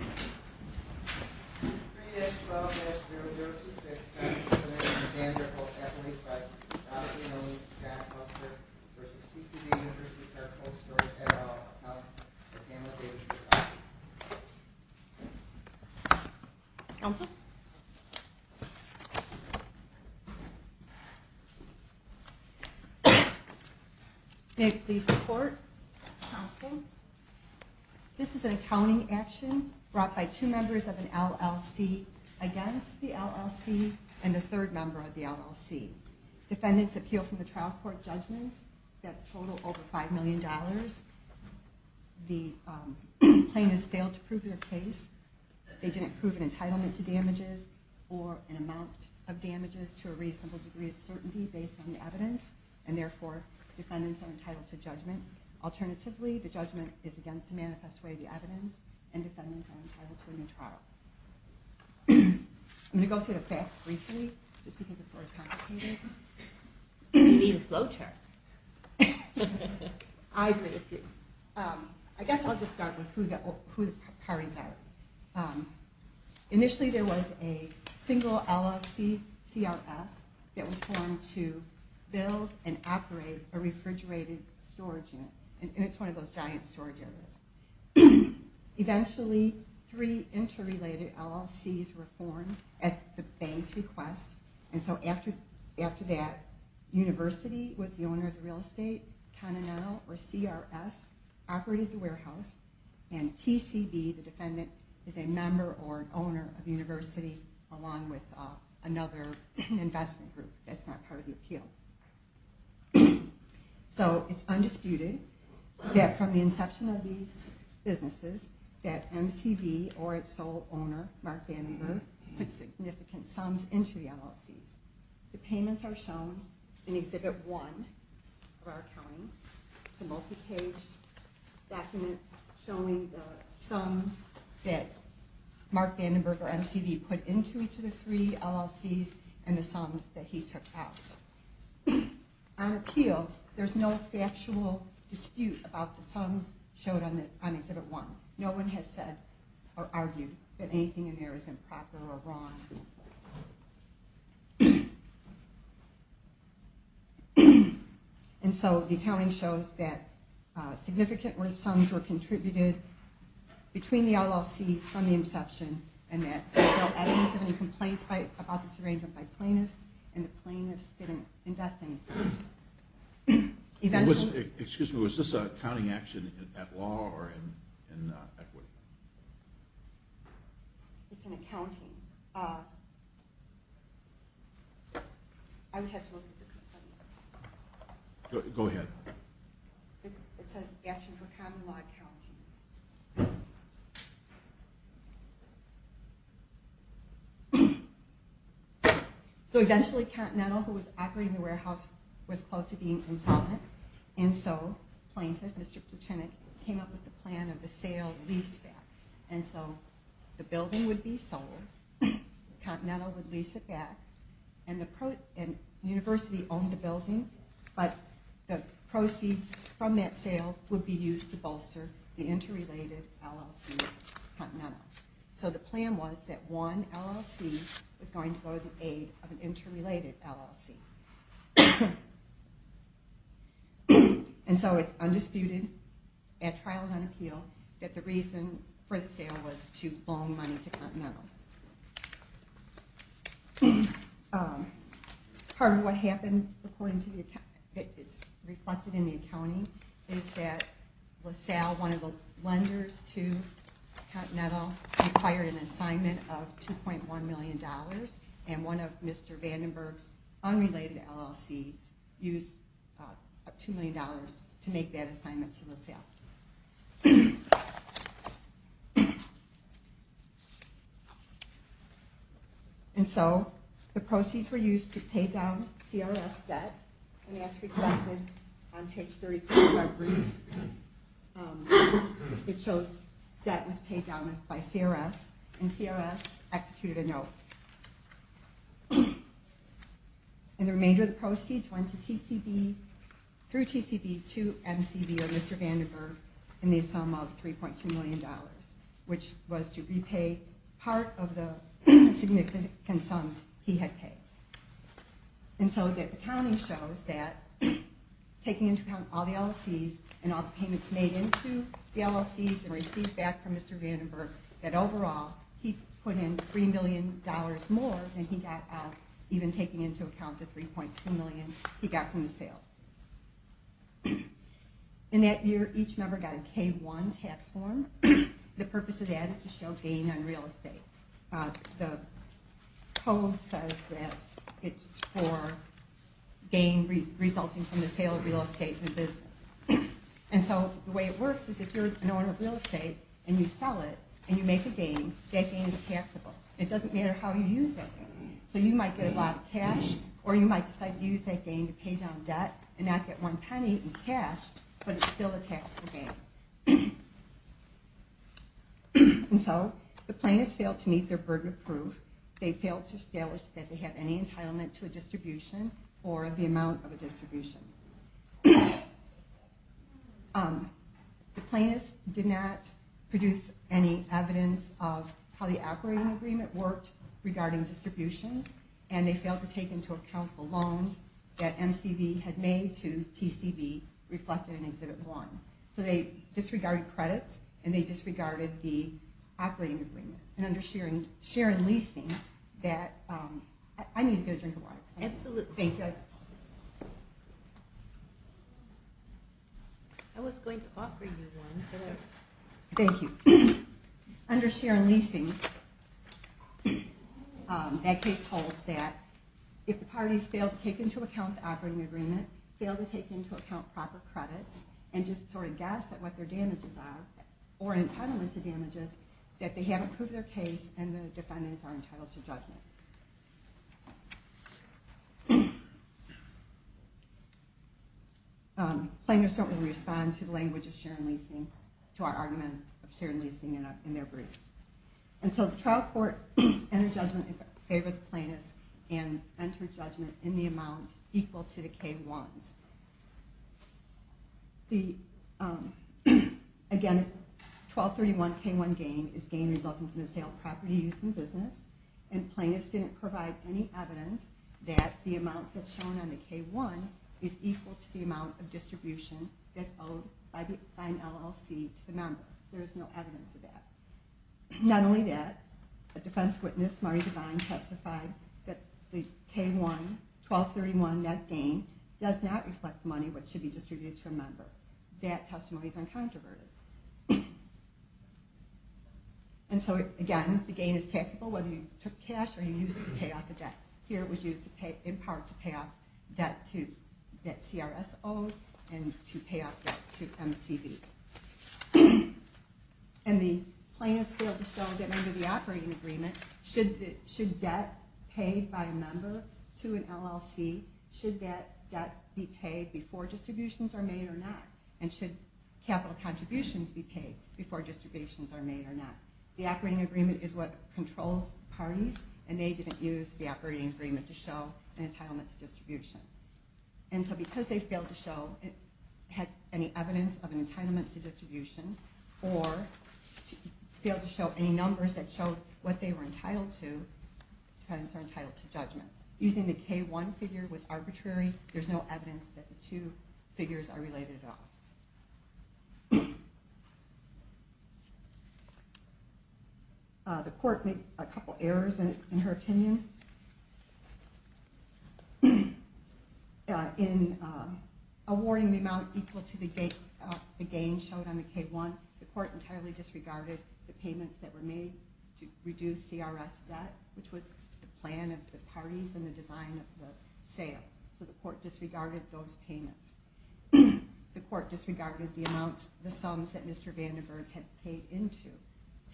at all accounts for Pamela Davis-McCarty. Counsel? May I please report? Counsel? accounting action. I am hereby to report that this is an indictment brought by two members of an LLC against the LLC and the third member of the LLC. Defendants appeal from the trial court judgments that total over $5 million. The plaintiffs failed to prove their case. They didn't prove an entitlement to damages or an amount of damages to a reasonable degree of certainty based on the evidence, and therefore defendants are entitled to judgment. Alternatively, the judgment is against the manifest where the evidence and defendants are entitled to a new trial. I'm going to go through the facts briefly just because it's sort of complicated. You need a flow chart. I agree with you. I guess I'll just start with who the parties are. Initially there was a single LLC, CRS, that was formed to build and operate a refrigerated storage unit, and it's one of those giant storage units. Eventually, three interrelated LLCs were formed at the bank's request, and so after that, University was the owner of the real estate, Continental, or CRS, operated the warehouse, and TCB, the defendant, is a member or owner of University along with another investment group that's not part of the appeal. It's undisputed that from the inception of these businesses that MCV or its sole owner, Mark Vandenberg, put significant sums into the LLCs. The payments are shown in Exhibit 1 of our accounting. It's a multi-page document showing the sums that Mark Vandenberg or MCV put into each of the three LLCs and the sums that he took out. On appeal, there's no factual dispute about the sums on Exhibit 1. No one has said or argued that anything in there is improper or wrong. And so the accounting shows that significant worth sums were contributed between the LLCs from the inception, and that there's no evidence of any complaints about this arrangement by plaintiffs, and the plaintiffs didn't invest any sums. Eventually... Was this an accounting action at law or in equity? It's in accounting. Go ahead. It says, Action for Common Law Accounting. So eventually, Continental, who was operating the warehouse, was close to being insolvent, and so Mr. Pluchenik came up with the plan of the sale leaseback. And so, the building would be sold, Continental would lease it back, and the university owned the building, but the proceeds from that sale would be used to bolster the interrelated LLC of Continental. So the plan was that one LLC was going to go to the aid of an interrelated LLC. And so it's undisputed at Trials on Appeal that the reason for the sale was to loan money to Continental. Part of what happened, according to the accounting, reflected in the accounting, is that LaSalle, one of the lenders to Continental, required an assignment of $2.1 million, and one of Mr. Vandenberg's unrelated LLCs used $2 million to make that assignment to LaSalle. And so, the proceeds were used and that's reflected on page 33 of our brief. It shows that was paid down by CRS, and CRS executed a note. And the remainder of the proceeds went to TCB, through TCB, to MCV or Mr. Vandenberg in the sum of $3.2 million, which was to repay part of the significant sums he had paid. And so the accounting shows that taking into account all the LLCs and all the payments made into the LLCs and received back from Mr. Vandenberg, that overall, he put in $3 million more than he got out, even taking into account the $3.2 million he got from the sale. In that year, each member got a K-1 tax form. The purpose of that is to show gain on real estate. The code says that it's for gain resulting from the sale of real estate and business. And so the way it works is if you're an owner of real estate and you sell it and you make a gain, that gain is taxable. It doesn't matter how you use that gain. So you might get a lot of cash or you might decide to use that gain to pay down debt and not get one penny in cash, but it's still a taxable gain. And so the plaintiffs failed to meet their burden of proof. They failed to establish that they had any entitlement to a distribution or the amount of a distribution. The plaintiffs did not produce any evidence of how the operating agreement worked regarding distributions, and they failed to take into account the loans that MCV had made to TCV reflected in Exhibit 1. So they disregarded credits and they disregarded the operating agreement. And under share and leasing that... I need to go drink a water. Thank you. I was going to offer you one. Thank you. Under share and leasing that case holds that if the parties fail to take into account the operating agreement, fail to take into account proper credits, and just sort of guess at what their damages are, or entitlement to damages, that they are entitled to judgment. Plaintiffs don't really respond to the language of share and leasing, to our argument of share and leasing in their briefs. And so the trial court entered judgment in favor of the plaintiffs and entered judgment in the amount equal to the K-1s. Again, 1231 K-1 gain is gain resulting from the sale of property, use, and business. And plaintiffs didn't provide any evidence that the amount that's shown on the K-1 is equal to the amount of distribution that's owed by an LLC to the member. There is no evidence of that. Not only that, a defense witness, Maurice Devine, testified that the K-1 1231 net gain does not reflect money which should be distributed to a member. That testimony is uncontroverted. And so again, the gain is taxable whether you took cash or you used it to pay off the debt. Here it was used in part to pay off debt to CRSO and to pay off debt to MCB. And the plaintiffs failed to show that under the operating agreement, should debt paid by a member to an LLC, should that debt be paid before distributions are made or not? And should capital contributions be paid before distributions are made or not? The operating agreement is what controls parties and they didn't use the operating agreement to show an entitlement to distribution. And so because they failed to show any evidence of an entitlement to distribution failed to show any numbers that showed what they were entitled to, the defendants are entitled to judgment. Using the K-1 figure was arbitrary. There's no evidence that the two figures are related at all. The court made a couple errors in her opinion. In awarding the amount equal to the gain showed on the K-1, the court entirely disregarded the payments that were made to reduce CRS debt, which was the plan of the parties and the design of the sale. So the court disregarded those payments. The court disregarded the sums that Mr. Vandiver had paid into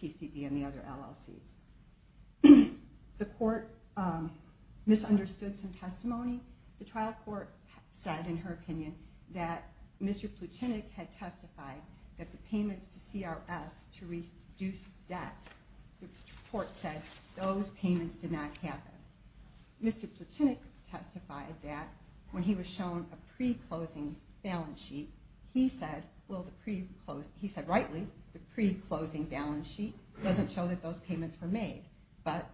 TCB and the other LLCs. The court misunderstood some testimony. The trial court said in her opinion that Mr. Pluchenik had testified that the payments to CRS to reduce debt, the court said those payments did not happen. Mr. Pluchenik testified that when he was shown a pre-closing balance sheet, he said rightly, the pre-closing balance sheet doesn't show that those payments were made. But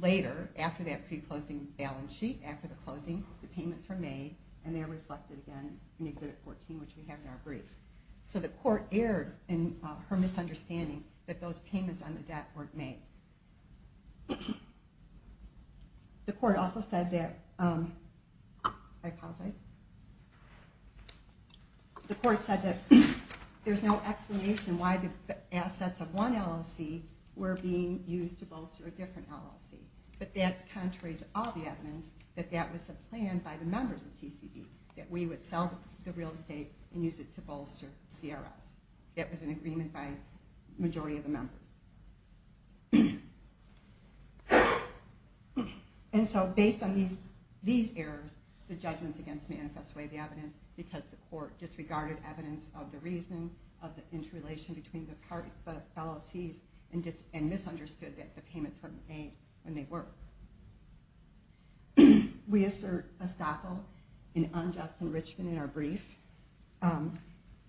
later, after that pre-closing balance sheet, after the closing, the payments were made, and they're reflected again in Exhibit 14, which we have in our brief. So the court erred in her misunderstanding that those payments on the debt weren't made. The court also said that I apologize. The court said that there's no explanation why the assets of one LLC were being used to bolster a different LLC. But that's contrary to all the evidence that that was the plan by the members of TCB. That we would sell the real estate and use it to bolster CRS. That was an agreement by the members of TCB. And so, based on these errors, the judgments against me manifest away the evidence because the court disregarded evidence of the reason of the interrelation between the LLCs and misunderstood that the payments were made when they were. We assert estoppel in unjust enrichment in our brief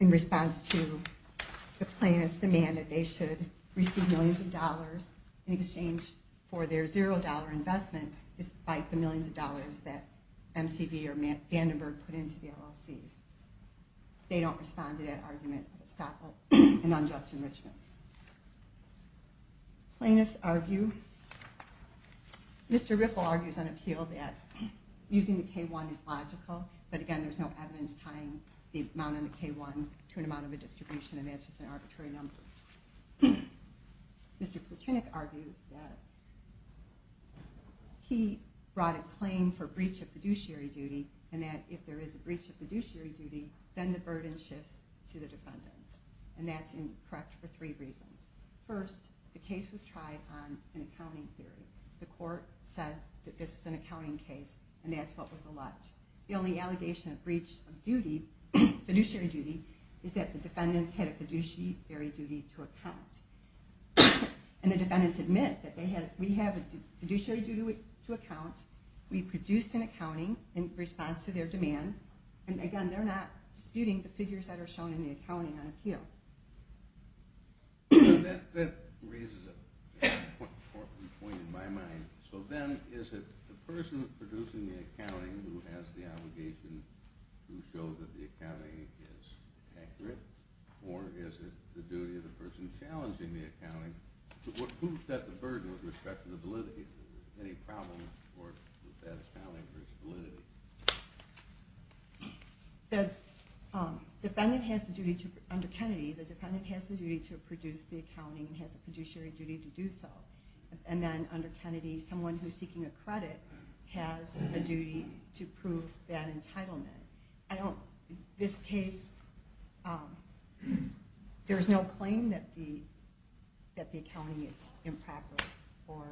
in response to the plaintiff's demand that they should receive millions of dollars in exchange for their zero dollar investment despite the millions of dollars that MCB or Vandenberg put into the LLCs. They don't respond to that argument of estoppel in unjust enrichment. Plaintiffs argue Mr. Riffle argues on appeal that using the K-1 is logical, but again there's no evidence tying the amount on the K-1 to an amount of a distribution and that's just an arbitrary number. Mr. Plotinik argues that he brought a claim for breach of fiduciary duty and that if there is a breach of fiduciary duty then the burden shifts to the defendants. And that's incorrect for three reasons. First, the case was tried on an accounting theory. The court said that this was an accounting case and that's what was alleged. The only allegation of breach of fiduciary duty is that the defendants had a fiduciary duty to account. And the defendants admit that we have a fiduciary duty to account, we produced an accounting in response to their demand and again they're not disputing the figures that are shown in the accounting on appeal. That raises an important point in my mind. So then is it the person producing the accounting who has the obligation to show that the accounting is accurate? Or is it the duty of the person challenging the accounting to prove that the burden with respect to the validity? Is there any problem with that accounting for its validity? The defendant has the duty to, under Kennedy, the defendant has the duty to produce the accounting and has a fiduciary duty to do so. And then under Kennedy, someone who's seeking a credit has a entitlement. In this case, there's no claim that the accounting is improper or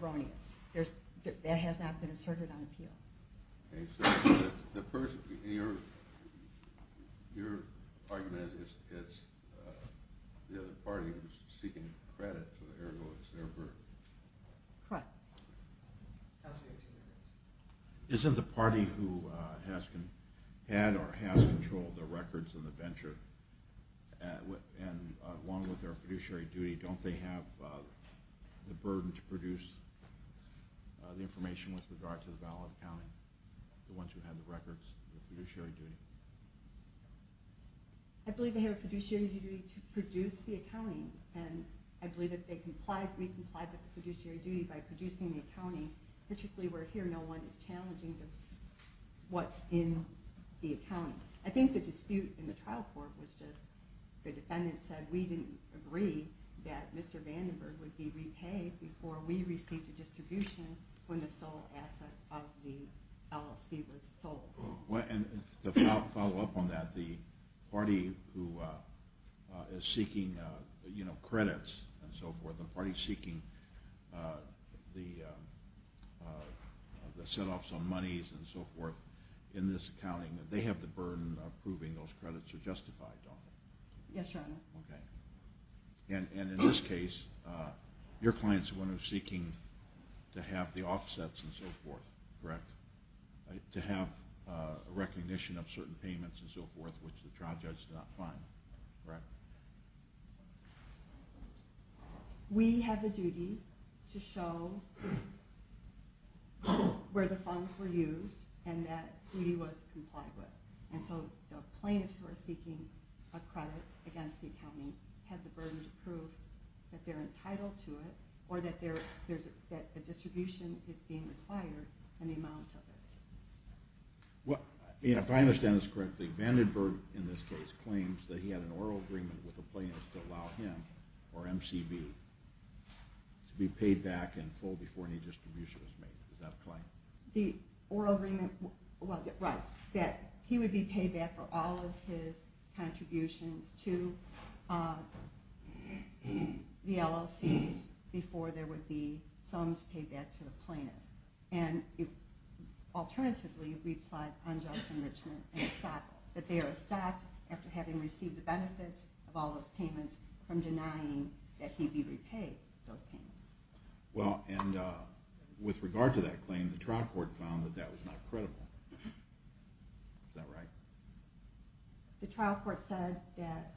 erroneous. That has not been asserted on appeal. So the person in your argument is the other party who's seeking credit for their burden. Correct. Counselor, you have two minutes. Isn't the party who has had or has controlled the records and the venture and along with their fiduciary duty, don't they have the burden to produce the information with regard to the valid accounting? The ones who have the records, the fiduciary duty. I believe they have a fiduciary duty to produce the accounting. And I believe that they comply, the fiduciary duty, by producing the accounting particularly where here no one is challenging what's in the accounting. I think the dispute in the trial court was just the defendant said we didn't agree that Mr. Vandenberg would be repaid before we received a distribution when the sole asset of the LLC was sold. To follow up on that, the party who is seeking credits and so forth, the party seeking the set offs on monies and so forth in this accounting, they have the burden of proving those credits are justified, don't they? Yes, Your Honor. And in this case, your client is the one who is seeking to have the offsets and so forth. Correct. To have a recognition of certain payments and so forth which the trial judge did not find. Correct. We have the duty to show where the funds were used and that duty was complied with. And so the plaintiffs who are seeking a credit against the accounting have the burden to prove that they're entitled to it or that the distribution is being required and the amount of it. If I understand this correctly, Vandenberg in this case claims that he had an oral agreement with the CB to be paid back in full before any distribution was made. Is that a claim? The oral agreement, well, right. That he would be paid back for all of his contributions to the LLCs before there would be sums paid back to the plaintiff. And alternatively, he replied on just enrichment and stocked, that they are stocked after having received the benefits of all those payments from denying that he would be repaid those payments. Well, and with regard to that claim, the trial court found that that was not credible. Is that right? The trial court said that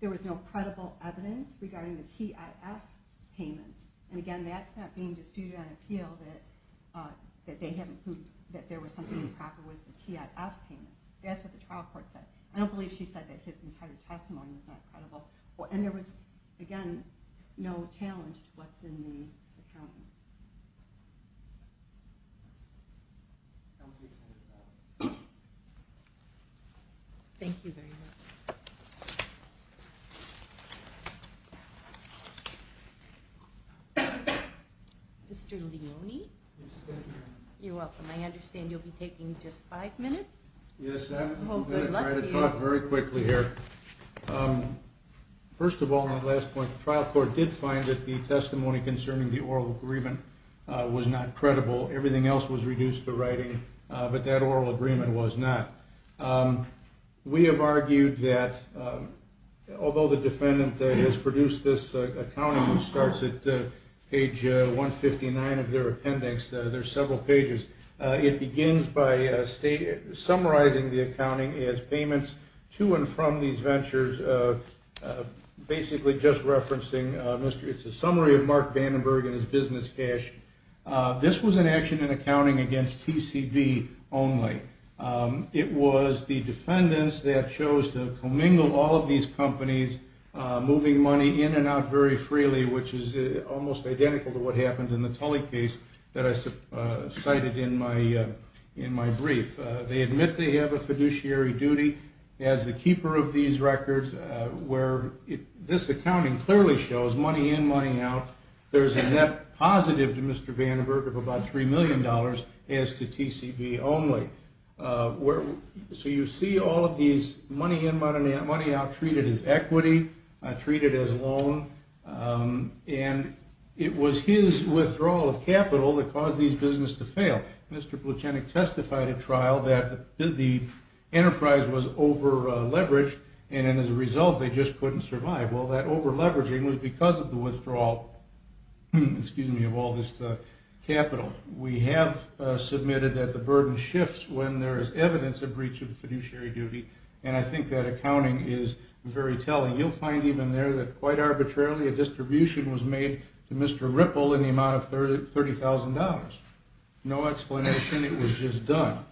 there was no credible evidence regarding the TIF payments. And again, that's not being disputed on appeal that there was something improper with the TIF payments. That's what the trial court said. I don't believe she said that his entire testimony was not credible. And there was, again, no challenge to what's in the account. Thank you very much. Mr. Leone? You're welcome. I understand you'll be taking just five minutes? Yes, I'm going to try to talk very quickly here. First of all, on the last point, the trial court did find that the testimony concerning the oral agreement was not credible. Everything else was reduced to writing, but that oral agreement was not. We have argued that although the defendant has produced this accounting, which starts at page 159 of their appendix, there's several pages, it begins by summarizing the accounting as payments to and from these ventures, basically just referencing a summary of Mark Vandenberg and his business cash. This was an action in accounting against TCB only. It was the defendants that chose to commingle all of these companies, moving money in and out very freely, which is almost identical to what happened in the Tully case that I cited in my brief. They admit they have a fiduciary duty as the keeper of these records, where this accounting clearly shows money in and money out. There's a net positive to Mr. Vandenberg of about $3 million as to TCB only. So you see all of these money in and money out treated as equity, treated as loan, and it was his withdrawal of Mr. Pluchenik testified at trial that the enterprise was over-leveraged, and as a result, they just couldn't survive. Well, that over-leveraging was because of the withdrawal of all this capital. We have submitted that the burden shifts when there is evidence of breach of fiduciary duty, and I think that accounting is very telling. You'll find even there that quite arbitrarily a distribution was made to Mr. Ripple in the amount of $30,000. No explanation. It was just done.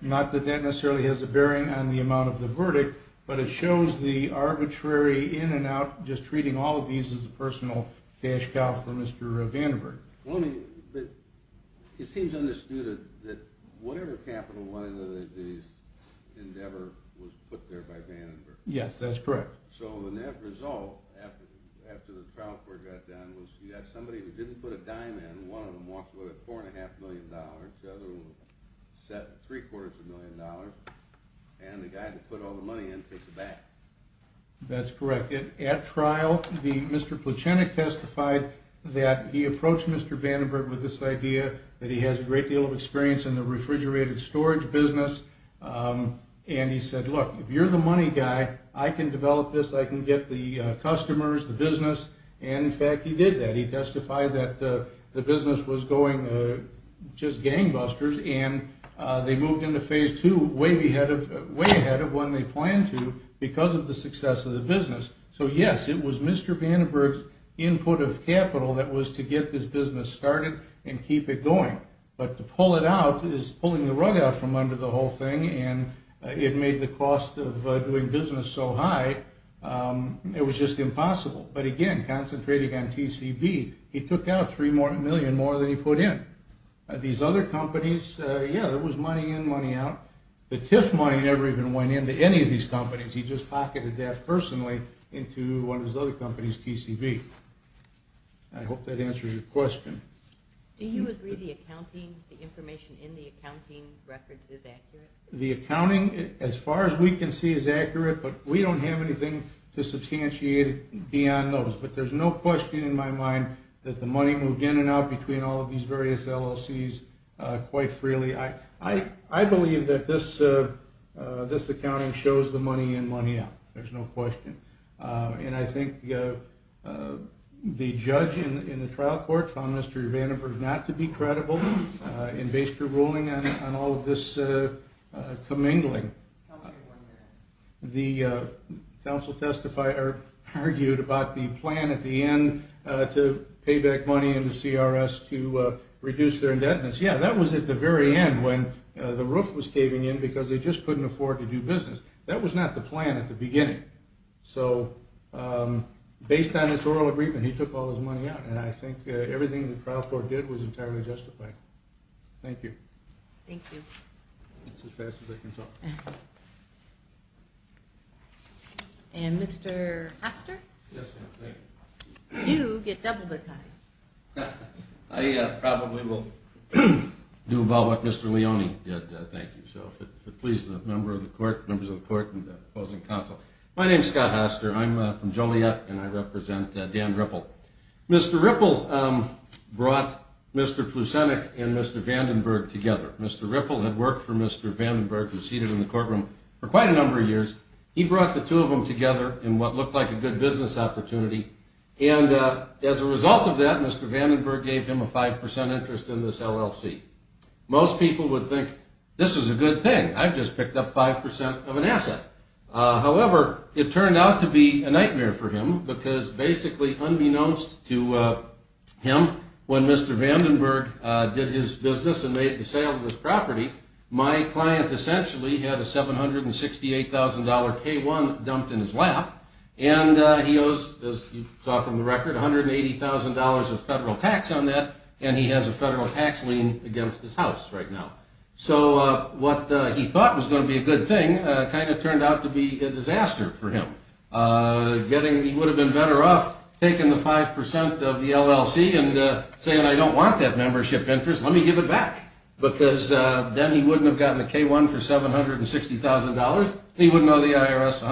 Not that that necessarily has a bearing on the amount of the verdict, but it shows the arbitrary in and out, just treating all of these as a personal cash cow for Mr. Vandenberg. It seems understood that whatever capital went into this endeavor was put there by Vandenberg. Yes, that's correct. So the net result after the trial court got done was you have somebody who didn't put a dime in, one of them walks away with $4.5 million, the other one with $3.25 million, and the guy that put all the money in takes it back. That's correct. At trial, Mr. Pluchenik testified that he approached Mr. Vandenberg with this idea that he has a great deal of experience in the refrigerated storage business, and he said, look, if you're the money guy, I can develop this, I can get the business going. In fact, he did that. He testified that the business was going just gangbusters, and they moved into Phase 2 way ahead of when they planned to because of the success of the business. So yes, it was Mr. Vandenberg's input of capital that was to get this business started and keep it going. But to pull it out is pulling the rug out from under the whole thing, and it made the cost of doing business so high, it was just impossible. But again, concentrating on TCB, he took out 3 million more than he put in. These other companies, yeah, there was money in, money out. The TIF money never even went into any of these companies. He just pocketed that personally into one of his other companies, TCB. I hope that answers your question. Do you agree the accounting, the information in the accounting records is accurate? The accounting, as far as we can see, is accurate, but we don't have anything to substantiate beyond those. But there's no question in my mind that the money moved in and out between all of these various LLCs quite freely. I believe that this accounting shows the money in, money out. There's no question. And I think the judge in the trial court found Mr. Vandenberg not to be credible in base your ruling on all of this mingling. The counsel argued about the plan at the end to pay back money into CRS to reduce their indebtedness. Yeah, that was at the very end when the roof was caving in because they just couldn't afford to do business. That was not the plan at the beginning. So, based on this oral agreement, he took all his money out, and I think everything the trial court did was entirely justified. Thank you. Thank you. That's as fast as I can talk. And Mr. Haster? Yes, ma'am. Thank you. You get double the time. I probably will do about what Mr. Leone did, thank you. So, if it pleases the members of the court and the opposing counsel. My name's Scott Haster. I'm from Joliet, and I represent Dan Ripple. Mr. Ripple brought Mr. Vandenberg together. Mr. Ripple had worked for Mr. Vandenberg, who's seated in the courtroom for quite a number of years. He brought the two of them together in what looked like a good business opportunity, and as a result of that, Mr. Vandenberg gave him a 5% interest in this LLC. Most people would think, this is a good thing. I've just picked up 5% of an asset. However, it turned out to be a nightmare for him because basically unbeknownst to him, when Mr. Vandenberg did his business and made the sale of this property, my client essentially had a $768,000 K-1 dumped in his lap, and he owes, as you saw from the record, $180,000 of federal tax on that, and he has a federal tax lien against his house right now. So, what he thought was going to be a good thing kind of turned out to be a disaster for him. He would have been better off taking the 5% of the LLC and saying, I don't want that membership interest. Let me give it back because then he wouldn't have gotten a K-1 for $760,000. He wouldn't owe the IRS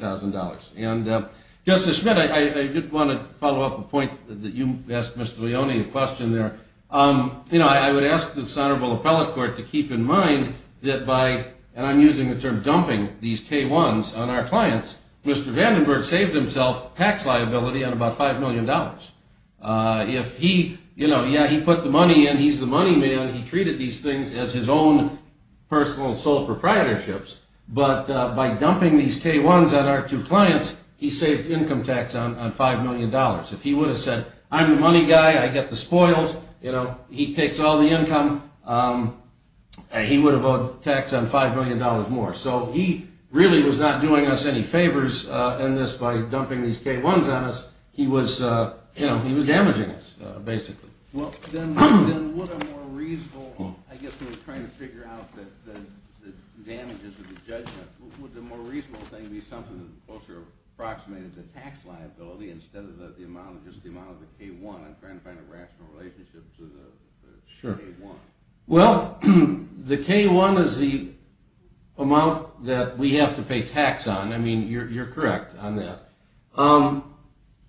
$180,000. Justice Schmitt, I did want to follow up a point that you asked Mr. Leone, a question there. I would ask this Honorable Appellate Court to keep in mind that by, and I'm using the term dumping, these K-1s on our clients, Mr. Vandenberg saved himself tax liability on about $5 million. If he, you know, yeah, he put the money in, he's the money man, he treated these things as his own personal sole proprietorships, but by dumping these K-1s on our two clients, he saved income tax on $5 million. If he would have said, I'm the money guy, I get the spoils, you know, he takes all the income, he would have owed tax on $5 million more. So, he really was not doing us any favors in this, by dumping these K-1s on us, he was, you know, he was damaging us, basically. Well, then would a more reasonable, I guess we're trying to figure out the damages of the judgment, would the more reasonable thing be something that's closer to, approximated to tax liability, instead of the amount, just the amount of the K-1, I'm trying to find a rational relationship to the K-1. Sure. Well, the K-1 is the amount that we have to pay tax on, I mean, you're correct on that.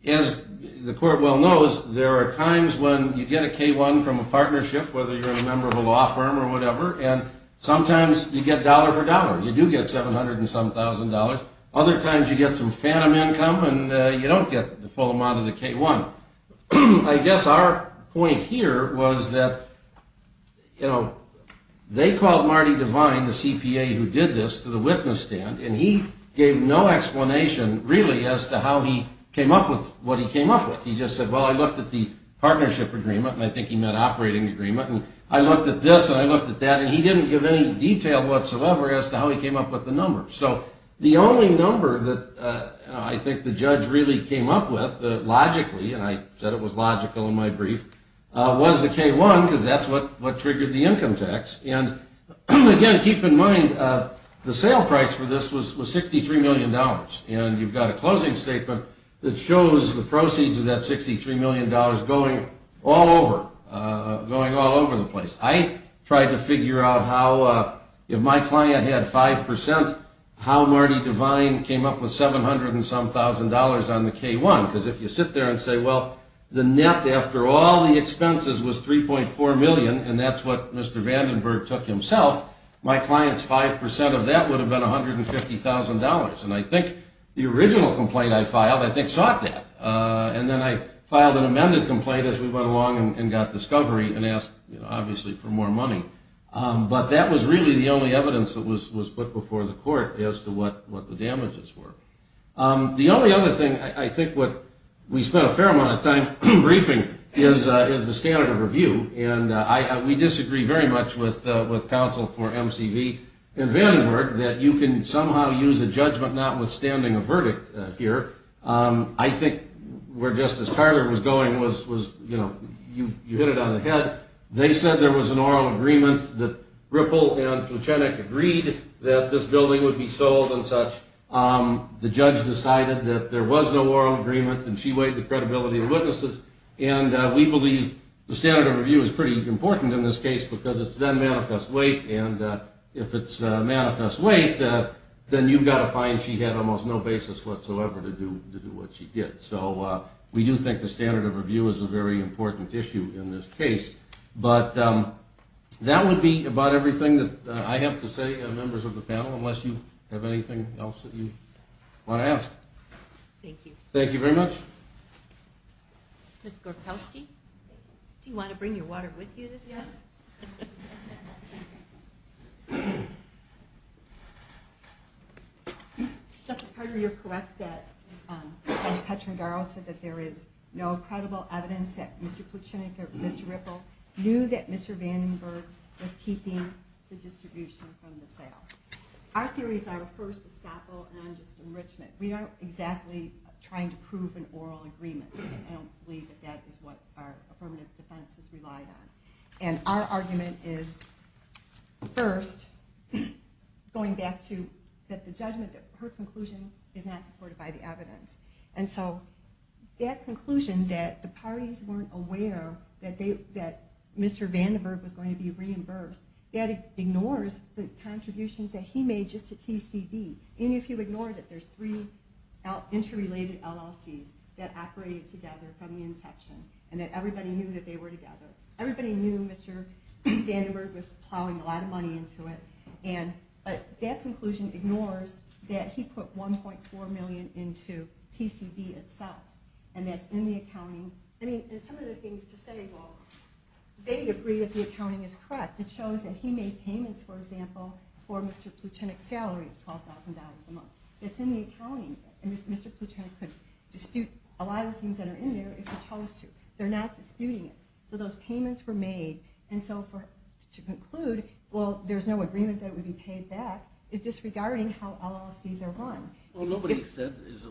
As the court well knows, there are times when you get a K-1 from a partnership, whether you're a member of a law firm or whatever, and sometimes you get dollar for dollar, you do get $700 and some thousand dollars. Other times you get some phantom income and you don't get the full amount of the K-1. I guess our point here was that you know, they called Marty Devine, the CPA who did this, to the witness stand, and he gave no explanation really as to how he came up with what he came up with. He just said, well, I looked at the partnership agreement, and I think he meant operating agreement, and I looked at this and I looked at that, and he didn't give any detail whatsoever as to how he came up with the number. So, the only number that I think the judge really came up with, logically, and I said it was logical in my brief, was the K-1, because that's what triggered the income tax. And, again, keep in mind the sale price for this was $63 million, and you've got a closing statement that shows the proceeds of that $63 million going all over, going all over the place. I tried to figure out how if my client had 5%, how Marty Devine came up with $700 and some thousand dollars on the K-1, because if you sit there and say, well, the net after all the expenses was $3.4 million, and that's what Mr. Vandenberg took himself, my client's 5% of that would have been $150,000. And I think the original complaint I filed, I think, sought that. And then I filed an amended complaint as we went along and got discovery and asked, obviously, for more money. But that was really the only evidence that was put before the court as to what the damages were. The only other thing I think what we spent a fair amount of time briefing is the standard of review. We disagree very much with counsel for MCV and Vandenberg that you can somehow use a judgment notwithstanding a verdict here. I think where Justice Carter was going was you hit it on the head. They said there was an oral agreement that Ripple and Pluchenik agreed that this building would be sold and such. The judge decided that there was no oral agreement and she weighed the credibility of the witnesses. And we believe the standard of review is pretty important in this case because it's then manifest weight. And if it's manifest weight, then you've got to find she had almost no basis whatsoever to do what she did. So we do think the standard of review is a very important issue in this case. But that would be about everything that I have to say to members of the panel, unless you have anything else that you want to ask. Thank you. Thank you very much. Ms. Gorkowski? Do you want to bring your water with you this time? Yes. Justice Carter, you're correct that Judge Petrangaro said that there is no credible evidence that Mr. Pluchenik or Mr. Ripple knew that Mr. Vandenberg was keeping the distribution from the sale. Our theory is our first establishment is a non-just enrichment. We aren't exactly trying to prove an oral agreement. I don't believe that that is what our affirmative defense has relied on. And our argument is first, going back to the judgment that her conclusion is not supported by the evidence. And so that conclusion that the parties weren't aware that Mr. Vandenberg was going to be reimbursed, that ignores the contributions that he made just to TCB. Even if you ignore that there's three interrelated LLCs that operated together from the inception and that everybody knew that they were together. Everybody knew Mr. Vandenberg was plowing a lot of money into it. But that conclusion ignores that he put $1.4 million into TCB itself. And some of the things to say, well, they agree that the accounting is correct. It shows that he made payments, for example, for Mr. Plutonik's salary of $12,000 a month. It's in the accounting. Mr. Plutonik could dispute a lot of the things that are in there if he chose to. They're not disputing it. So those payments were made. And so to conclude, well, there's no agreement that it would be paid back, is disregarding how LLCs are run. Well, nobody is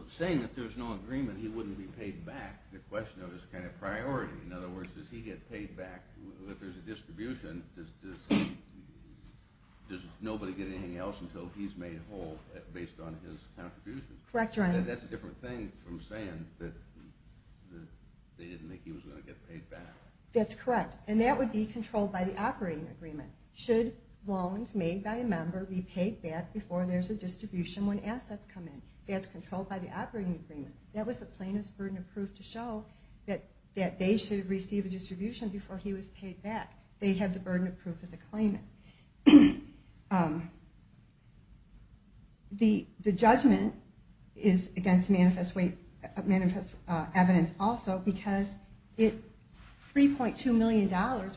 saying that there's no agreement he wouldn't be paid back. The question is kind of priority. In other words, does he get paid back if there's a distribution? Does nobody get anything else until he's made whole based on his contributions? That's a different thing from saying that they didn't think he was going to get paid back. That's correct. And that would be controlled by the operating agreement. Should loans made by a member be paid back before there's a distribution when assets come in? That's controlled by the operating agreement. That was the plaintiff's burden of proof to show that they should receive a distribution before he was paid back. They have the burden of proof as a claimant. The judgment is against manifest evidence also because $3.2 million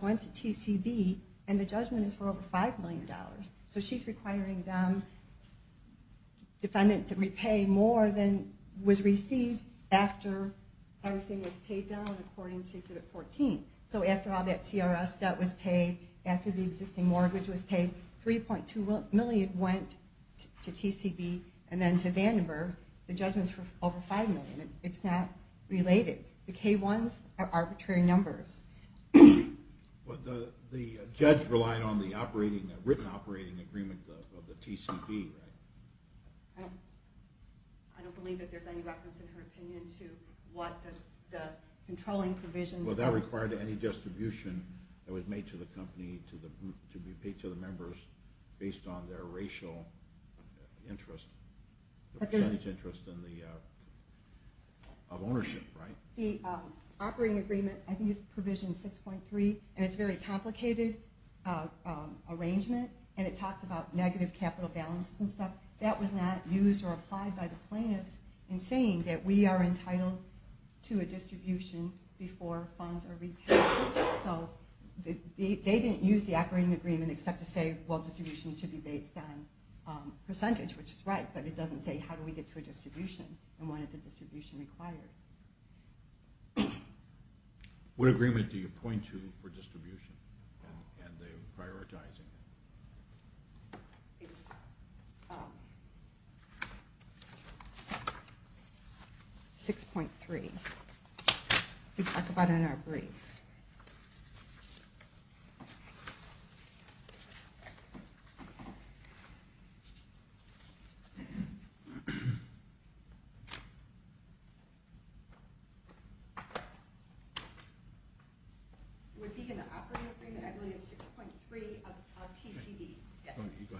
went to TCB and the judgment is for over $5 million. So she's requiring them defendant to repay more than was received after everything was paid down according to exhibit 14. So after all that CRS debt was paid, after the existing mortgage was paid, $3.2 million went to TCB and then to Vandenberg. The judgment's for over $5 million. It's not related. The K-1s are arbitrary numbers. The judge relied on the written operating agreement of the TCB, right? I don't believe that there's any reference in her opinion to what the controlling provisions are. Was that required to any distribution that was made to the company to be paid to the members based on their racial interest? The percentage interest of ownership, right? The operating agreement, I think it's provision 6.3, and it's a very complicated arrangement, and it talks about negative capital balances and stuff. That was not used or applied by the plaintiffs in saying that we are entitled to a distribution before funds are repaid. They didn't use the operating agreement except to say, well, distribution should be based on percentage, which is right, but it doesn't say how do we get to a distribution and when is a distribution required. What agreement do you point to for distribution and the prioritizing? 6.3. We talk about it in our brief. Would it be in the operating agreement 6.3 of TCB?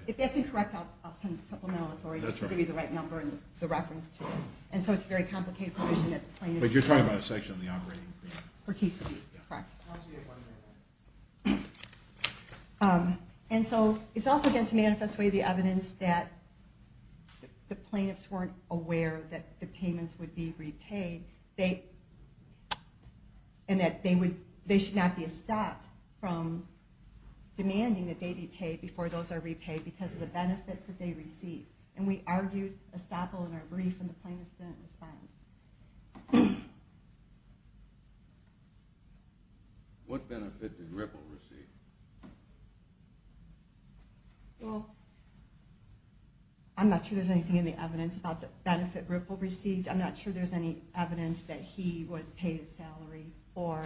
If that's incorrect, I'll send the supplemental authority to give you the right number and the reference to it. It's a very complicated provision. You're talking about a section of the operating agreement. For TCB, correct. It's also against the manifest way the evidence that the plaintiffs weren't aware that the payments would be repaid. They should not be stopped from demanding that they be paid before those are repaid because of the benefits that they receive. We argued a staple in our brief and the plaintiffs didn't respond. What benefit did Ripple receive? I'm not sure there's anything in the evidence about the benefit Ripple received. I'm not sure there's any evidence that he was paid a salary or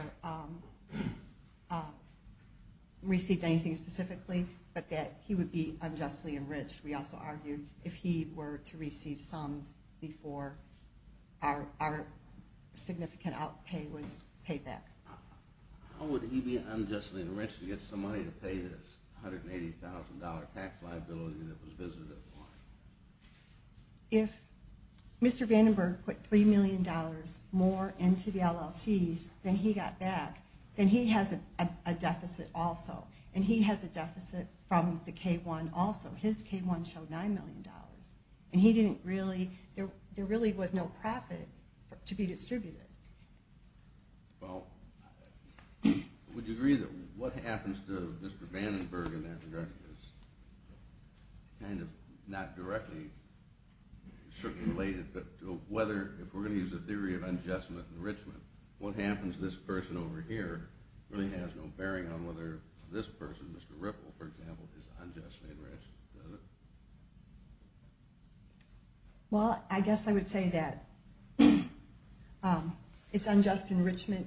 that he would be unjustly enriched. We also argued if he were to receive sums before our significant outpay was paid back. How would he be unjustly enriched to get some money to pay this $180,000 tax liability that was visited? If Mr. Vandenberg put $3 million more into the LLC's then he got back. Then he has a deficit also. He has a deficit from the K-1 also. His K-1 showed $9 million. There really was no profit to be distributed. Would you agree that what happens to Mr. Vandenberg in that regard is kind of not directly related to whether, if we're going to use the theory of unjust enrichment, what happens to this person over here really has no bearing on whether this person, Mr. Ripple, for example, is unjustly enriched? Well, I guess I would say that it's unjust enrichment.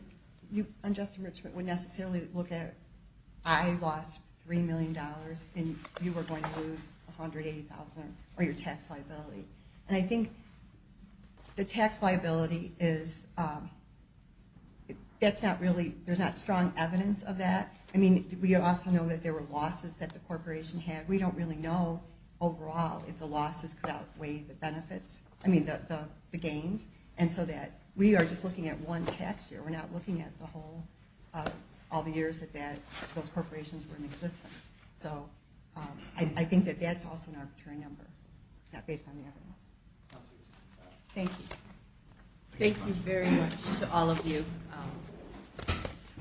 Unjust enrichment wouldn't necessarily look at I lost $3 million and you were going to lose $180,000 or your tax liability. And I think the tax liability is that's not really, there's not strong evidence of that. I mean, we also know that there were losses that the corporation had. We don't really know, overall, if the losses could outweigh the benefits. I mean, the gains. And so that, we are just looking at one tax year. We're not looking at the whole all the years that those corporations were in existence. I think that that's also an arbitrary number, not based on the evidence. Thank you. Thank you very much to all of you.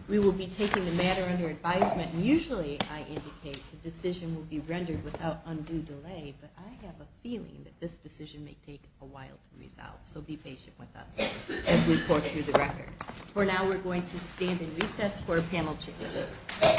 We will be taking the matter under advisement. Usually, I indicate the decision will be rendered without undue delay, but I have a feeling that this decision may take a while to resolve. So be patient with us as we pour through the record. For now, we're going to stand and recess for a panel check.